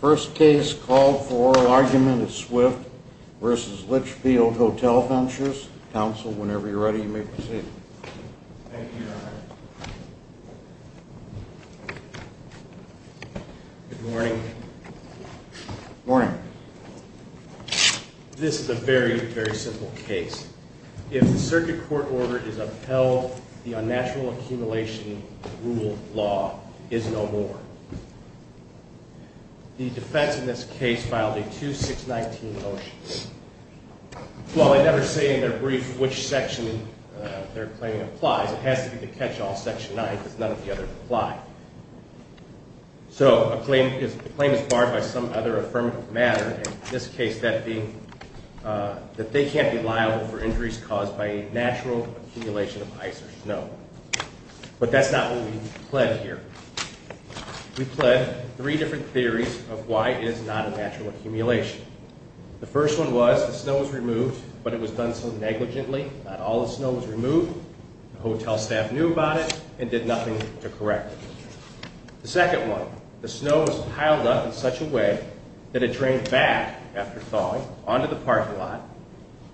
First case called for oral argument is Swift v. Litchfield Hotel Ventures. Counsel, whenever you're ready, you may proceed. Thank you, Your Honor. Good morning. Morning. This is a very, very simple case. If the circuit court order is upheld, the unnatural accumulation rule law is no more. The defense in this case filed a 2-6-19 motion. While they never say in their brief which section their claim applies, it has to be the catch-all section 9 because none of the others apply. So, a claim is barred by some other affirmative matter, in this case that being that they can't be liable for injuries caused by a natural accumulation of ice or snow. But that's not what we've pled here. We've pled three different theories of why it is not a natural accumulation. The first one was the snow was removed, but it was done so negligently. Not all the snow was removed. The hotel staff knew about it and did nothing to correct it. The second one, the snow was piled up in such a way that it drained back after thawing onto the parking lot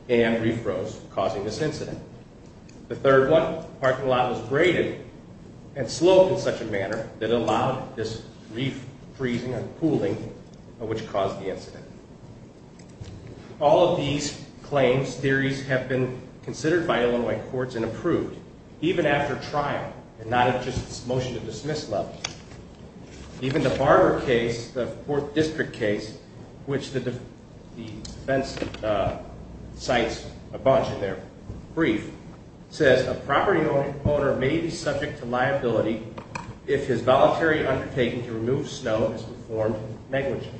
and refroze, causing this incident. The third one, the parking lot was braided and sloped in such a manner that it allowed this refreezing and cooling which caused the incident. All of these claims, theories, have been considered by Illinois courts and approved, even after trial and not at just motion to dismiss level. Even the Barber case, the 4th District case, which the defense cites a bunch in their brief, says a property owner may be subject to liability if his voluntary undertaking to remove snow is performed negligently.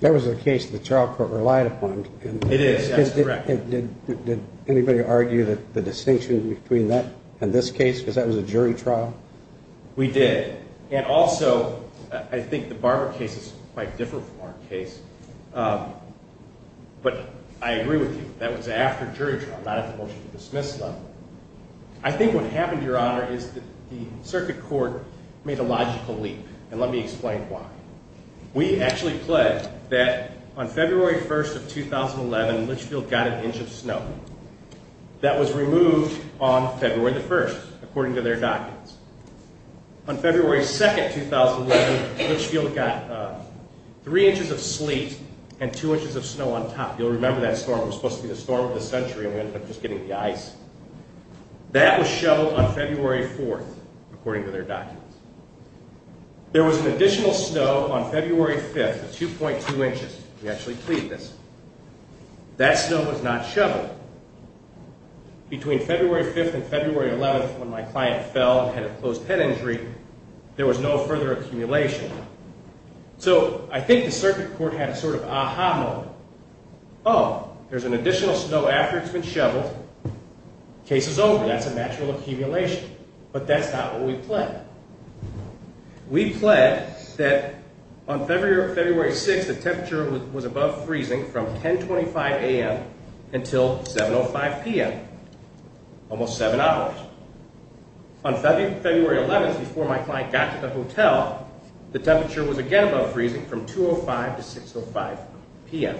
That was a case the trial court relied upon. It is, that's correct. Did anybody argue that the distinction between that and this case because that was a jury trial? We did. And also, I think the Barber case is quite different from our case, but I agree with you. That was after jury trial, not at the motion to dismiss level. I think what happened, Your Honor, is that the circuit court made a logical leap, and let me explain why. We actually pledged that on February 1st of 2011, Litchfield got an inch of snow. That was removed on February 1st, according to their documents. On February 2nd, 2011, Litchfield got 3 inches of sleet and 2 inches of snow on top. You'll remember that storm. It was supposed to be the storm of the century and we ended up just getting the ice. That was shoveled on February 4th, according to their documents. There was an additional snow on February 5th of 2.2 inches. We actually plead this. That snow was not shoveled. Between February 5th and February 11th, when my client fell and had a closed head injury, there was no further accumulation. So, I think the circuit court had a sort of aha moment. Oh, there's an additional snow after it's been shoveled. Case is over. That's a natural accumulation. But that's not what we pledged. We pledged that on February 6th, the temperature was above freezing from 10.25 a.m. until 7.05 p.m. Almost 7 hours. On February 11th, before my client got to the hotel, the temperature was again above freezing from 2.05 to 6.05 p.m.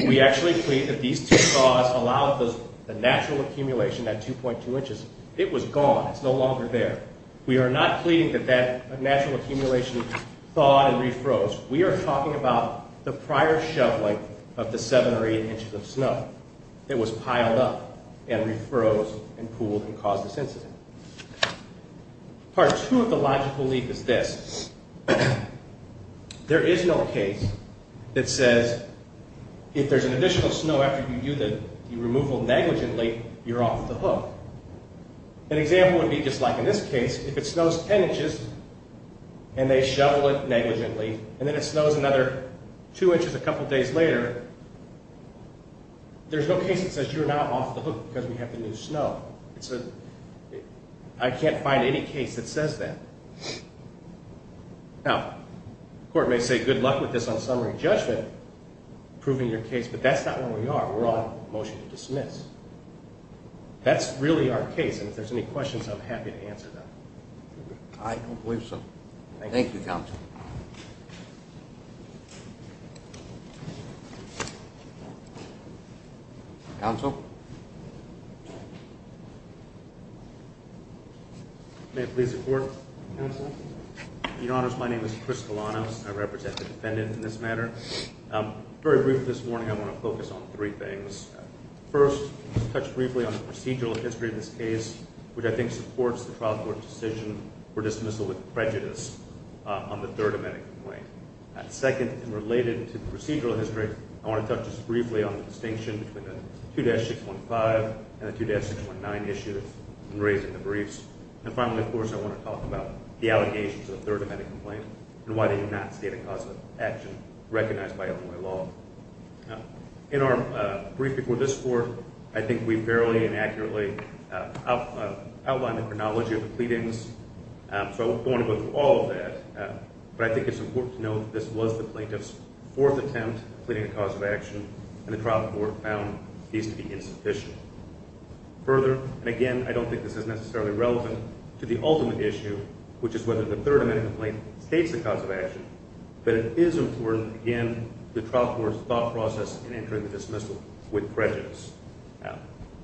We actually plead that these two thaws allowed the natural accumulation at 2.2 inches. It was gone. It's no longer there. We are not pleading that that natural accumulation thawed and refroze. We are talking about the prior shoveling of the 7 or 8 inches of snow. It was piled up and refroze and cooled and caused this incident. Part two of the logical leap is this. There is no case that says if there's an additional snow after you do the removal negligently, you're off the hook. An example would be just like in this case. If it snows 10 inches and they shovel it negligently and then it snows another 2 inches a couple days later, there's no case that says you're now off the hook because we have the new snow. I can't find any case that says that. Now, the court may say good luck with this on summary judgment, proving your case, but that's not where we are. We're on motion to dismiss. That's really our case, and if there's any questions, I'm happy to answer them. I don't believe so. Thank you, counsel. Counsel? May it please the court? Counsel? Your Honors, my name is Chris Galanos. I represent the defendant in this matter. Very briefly this morning, I want to focus on three things. First, touch briefly on the procedural history of this case, which I think supports the trial court's decision for dismissal with prejudice on the third amendment complaint. Second, related to the procedural history, I want to touch just briefly on the distinction between the 2-615 and the 2-619 issues in raising the briefs. And finally, of course, I want to talk about the allegations of the third amendment complaint and why they do not state a cause of action recognized by Illinois law. In our brief before this court, I think we fairly and accurately outlined the chronology of the pleadings, so I won't go into all of that. But I think it's important to note that this was the plaintiff's fourth attempt at pleading a cause of action, and the trial court found these to be insufficient. Further, and again, I don't think this is necessarily relevant to the ultimate issue, which is whether the third amendment complaint states a cause of action, but it is important, again, to the trial court's thought process in entering the dismissal with prejudice.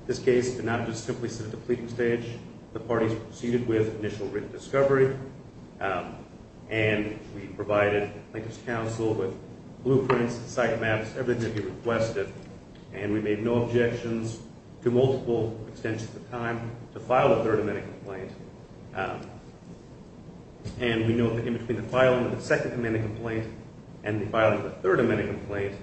This case did not just simply sit at the pleading stage. The parties proceeded with initial written discovery, and we provided plaintiff's counsel with blueprints, site maps, everything that he requested, and we made no objections to multiple extensions of time to file a third amendment complaint. And we know that in between the filing of the second amendment complaint and the filing of the third amendment complaint,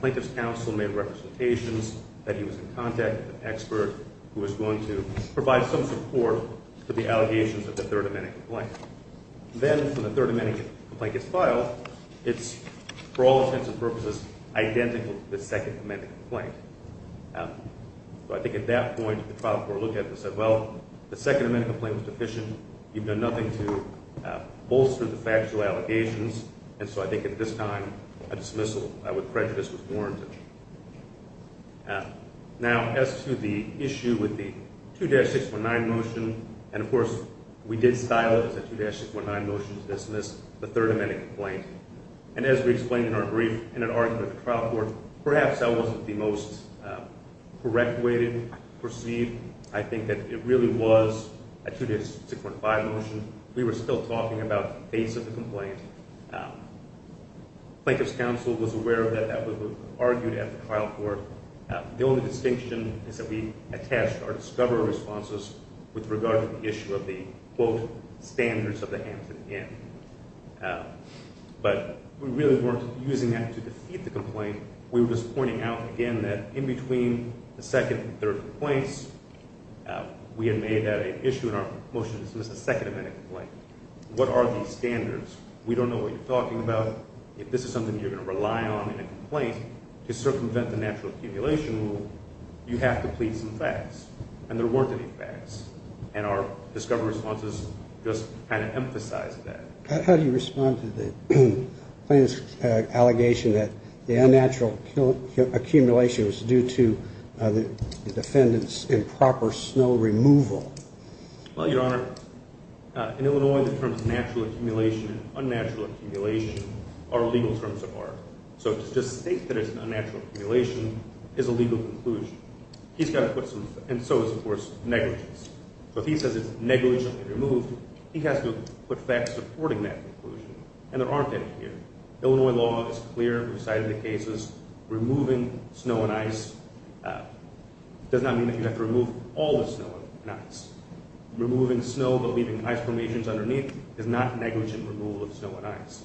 plaintiff's counsel made representations that he was in contact with an expert who was going to provide some support for the allegations of the third amendment complaint. Then, when the third amendment complaint gets filed, it's, for all intents and purposes, identical to the second amendment complaint. So I think at that point, the trial court looked at it and said, well, the second amendment complaint was deficient. You've done nothing to bolster the factual allegations. And so I think at this time, a dismissal with prejudice was warranted. Now, as to the issue with the 2-619 motion, and of course, we did style it as a 2-619 motion to dismiss the third amendment complaint. And as we explained in our brief, in an argument with the trial court, perhaps that wasn't the most correct way to proceed. I think that it really was a 2-645 motion. We were still talking about the face of the complaint. Plaintiff's counsel was aware of that. That was what was argued at the trial court. The only distinction is that we attached our discovery responses with regard to the issue of the, quote, standards of the Hampton Inn. But we really weren't using that to defeat the complaint. We were just pointing out, again, that in between the second and third complaints, we had made that an issue in our motion to dismiss the second amendment complaint. What are these standards? We don't know what you're talking about. If this is something you're going to rely on in a complaint to circumvent the natural accumulation rule, you have to plead some facts. And there weren't any facts. And our discovery responses just kind of emphasized that. How do you respond to the plaintiff's allegation that the unnatural accumulation was due to the defendant's improper snow removal? Well, Your Honor, in Illinois, the terms natural accumulation and unnatural accumulation are legal terms of art. So to just state that it's an unnatural accumulation is a legal conclusion. And so is, of course, negligence. So if he says it's negligently removed, he has to put facts supporting that conclusion. And there aren't any here. Illinois law is clear. We've cited the cases. Removing snow and ice does not mean that you have to remove all the snow and ice. Removing snow but leaving ice formations underneath is not negligent removal of snow and ice.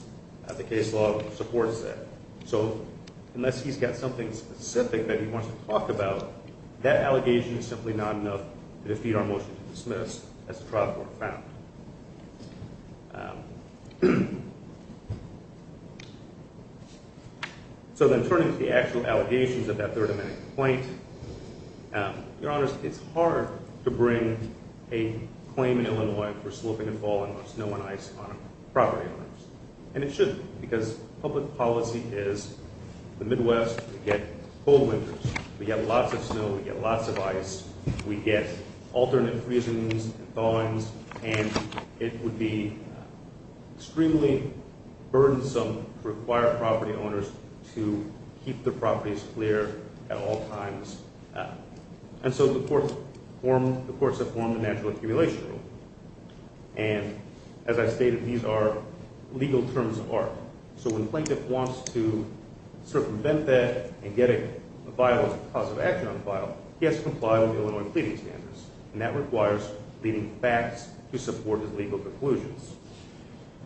The case law supports that. So unless he's got something specific that he wants to talk about, that allegation is simply not enough to defeat our motion to dismiss as a trial court found. So then turning to the actual allegations of that Third Amendment complaint, Your Honors, it's hard to bring a claim in Illinois for sloping and falling of snow and ice on a property owners. And it shouldn't because public policy is the Midwest. We get cold winters. We get lots of snow. We get lots of ice. We get alternate freezings and thawings. And it would be extremely burdensome to require property owners to keep their properties clear at all times. And so the courts have formed a natural accumulation rule. And as I stated, these are legal terms of art. So when a plaintiff wants to sort of prevent that and get a viable cause of action on file, he has to comply with Illinois pleading standards. And that requires pleading facts to support his legal conclusions.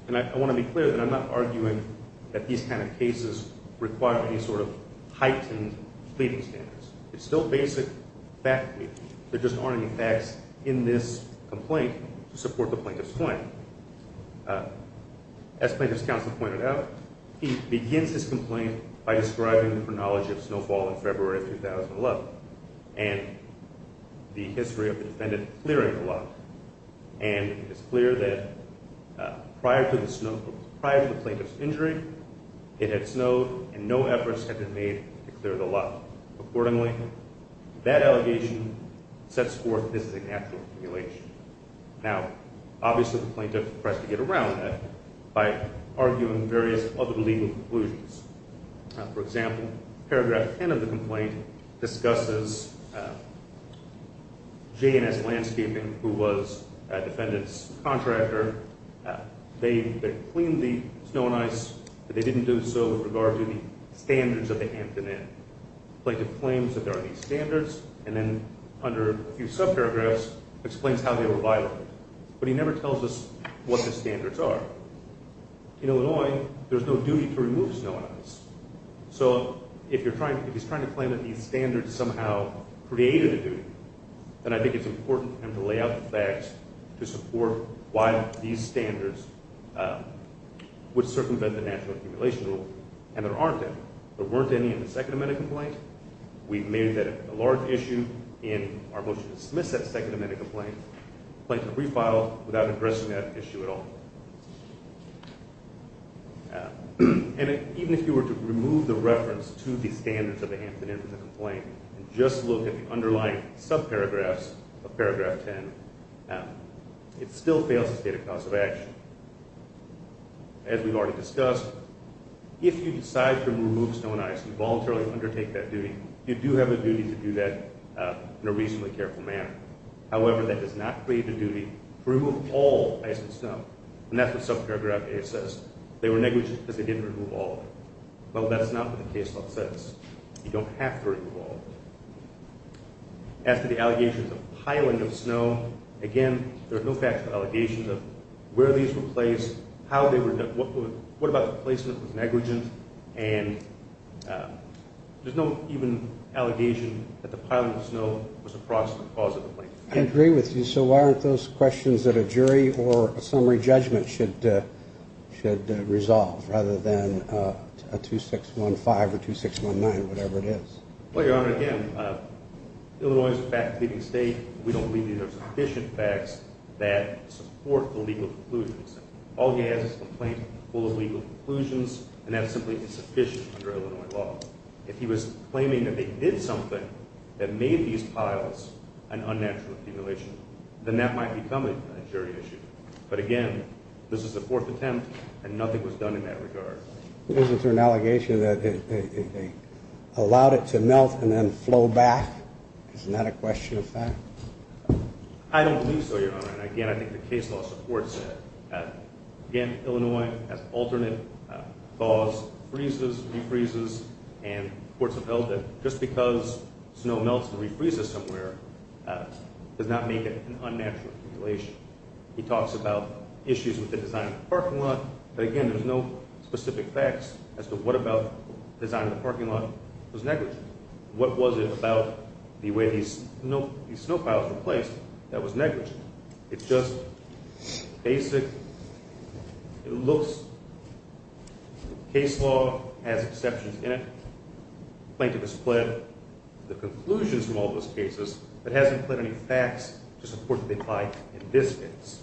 And I want to be clear that I'm not arguing that these kind of cases require any sort of heightened pleading standards. It's still basic fact pleading. There just aren't any facts in this complaint to support the plaintiff's claim. As Plaintiff's Counsel pointed out, he begins his complaint by describing the chronology of snowfall in February of 2011 and the history of the defendant clearing the lot. And it's clear that prior to the plaintiff's injury, it had snowed and no efforts had been made to clear the lot. Accordingly, that allegation sets forth this is a natural accumulation. Now, obviously the plaintiff tries to get around that by arguing various other legal conclusions. For example, paragraph 10 of the complaint discusses J&S Landscaping, who was the defendant's contractor. They cleaned the snow and ice, but they didn't do so with regard to the standards of the Hampton Inn. Plaintiff claims that there are these standards, and then under a few subparagraphs explains how they were violated. But he never tells us what the standards are. In Illinois, there's no duty to remove snow and ice. So if he's trying to claim that these standards somehow created a duty, then I think it's important for him to lay out the facts to support why these standards would circumvent the natural accumulation rule. And there aren't any. There weren't any in the Second Amendment complaint. We've made that a large issue in our motion to dismiss that Second Amendment complaint. The plaintiff refiled without addressing that issue at all. And even if you were to remove the reference to the standards of the Hampton Inn from the complaint, and just look at the underlying subparagraphs of paragraph 10, it still fails to state a cause of action. As we've already discussed, if you decide to remove snow and ice and voluntarily undertake that duty, you do have a duty to do that in a reasonably careful manner. However, that does not create a duty to remove all ice and snow. And that's what subparagraph A says. They were negligent because they didn't remove all of it. Well, that's not what the case law says. You don't have to remove all of it. As to the allegations of piling of snow, again, there are no factual allegations of where these were placed, what about the placement was negligent, and there's no even allegation that the piling of snow was a cause of the complaint. I agree with you. So why aren't those questions that a jury or a summary judgment should resolve, rather than a 2615 or 2619 or whatever it is? Well, Your Honor, again, Illinois is a fact-leaving state. We don't believe there are sufficient facts that support the legal conclusions. All he has is a complaint full of legal conclusions, and that's simply insufficient under Illinois law. If he was claiming that they did something that made these piles an unnatural accumulation, then that might become a jury issue. But again, this is a fourth attempt, and nothing was done in that regard. Isn't there an allegation that they allowed it to melt and then flow back? Isn't that a question of fact? I don't believe so, Your Honor. And again, I think the case law supports that. Again, Illinois has alternate laws, freezes, refreezes, and courts have held that just because snow melts and refreezes somewhere does not make it an unnatural accumulation. He talks about issues with the design of the parking lot, but again, there's no specific facts as to what about the design of the parking lot was negligent. What was it about the way these snow piles were placed that was negligent? It's just basic. It looks. Case law has exceptions in it. Plaintiff has pled the conclusions from all those cases, but hasn't pled any facts to support that they apply in this case.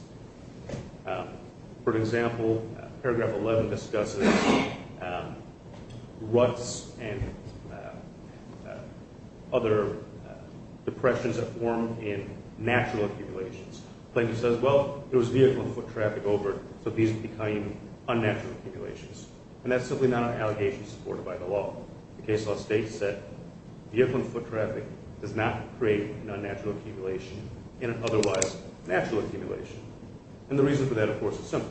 For example, paragraph 11 discusses ruts and other depressions that form in natural accumulations. Plaintiff says, well, there was vehicle and foot traffic over, so these became unnatural accumulations. And that's simply not an allegation supported by the law. The case law states that vehicle and foot traffic does not create an unnatural accumulation in an otherwise natural accumulation. And the reason for that, of course, is simple.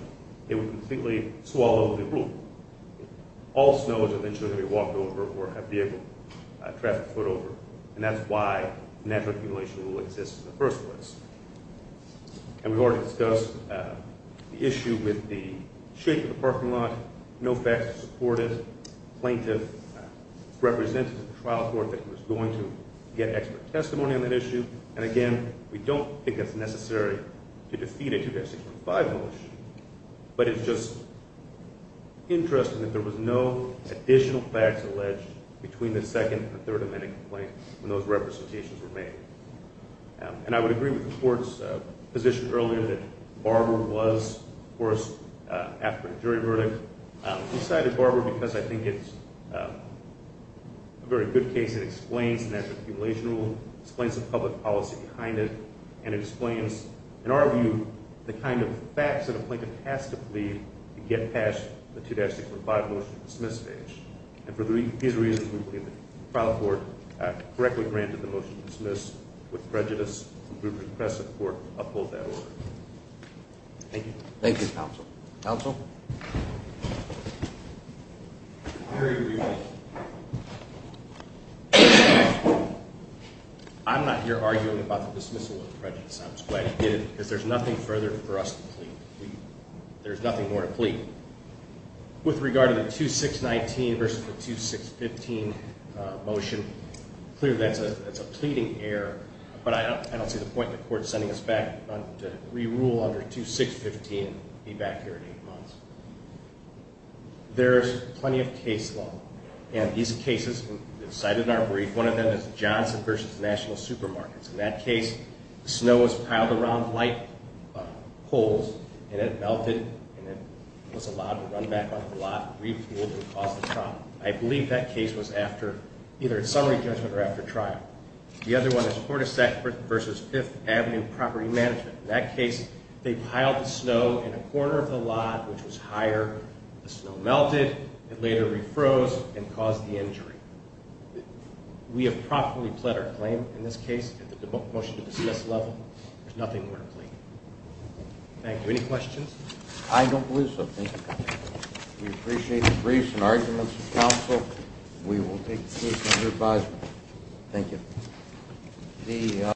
It would completely swallow the rule. All snow is eventually going to be walked over or have vehicle and traffic float over, and that's why natural accumulation rule exists in the first place. And we've already discussed the issue with the shape of the parking lot. No facts to support it. Plaintiff represented the trial court that was going to get expert testimony on that issue. And again, we don't think that's necessary to defeat a 2-6-1-5 mullish. But it's just interesting that there was no additional facts alleged between the second and the third amendment complaint when those representations were made. And I would agree with the court's position earlier that Barber was, of course, after a jury verdict. We cited Barber because I think it's a very good case. It explains the natural accumulation rule, explains the public policy behind it, and it explains, in our view, the kind of facts that a plaintiff has to plead to get past the 2-6-1-5 motion to dismiss stage. And for these reasons, we believe the trial court correctly granted the motion to dismiss with prejudice, and we would request that the court uphold that order. Thank you. Thank you, counsel. Counsel? I'm not here arguing about the dismissal with prejudice. I'm just glad you did it because there's nothing further for us to plead. There's nothing more to plead. With regard to the 2-6-19 versus the 2-6-15 motion, clearly that's a pleading error. But I don't see the point in the court sending us back to rerule under 2-6-15 and be back here in eight months. There's plenty of case law, and these cases cited in our brief, one of them is Johnson v. National Supermarkets. In that case, snow was piled around light poles, and it melted, and it was allowed to run back on the lot, refuel, and cause the problem. I believe that case was after either a summary judgment or after trial. The other one is Portisac v. Fifth Avenue Property Management. In that case, they piled the snow in a corner of the lot, which was higher. The snow melted, it later refroze, and caused the injury. We have properly pled our claim in this case at the motion-to-dismiss level. There's nothing more to plead. Thank you. Any questions? I don't believe so. Thank you, counsel. We appreciate the briefs and arguments of counsel. We will take the case under advisement. Thank you.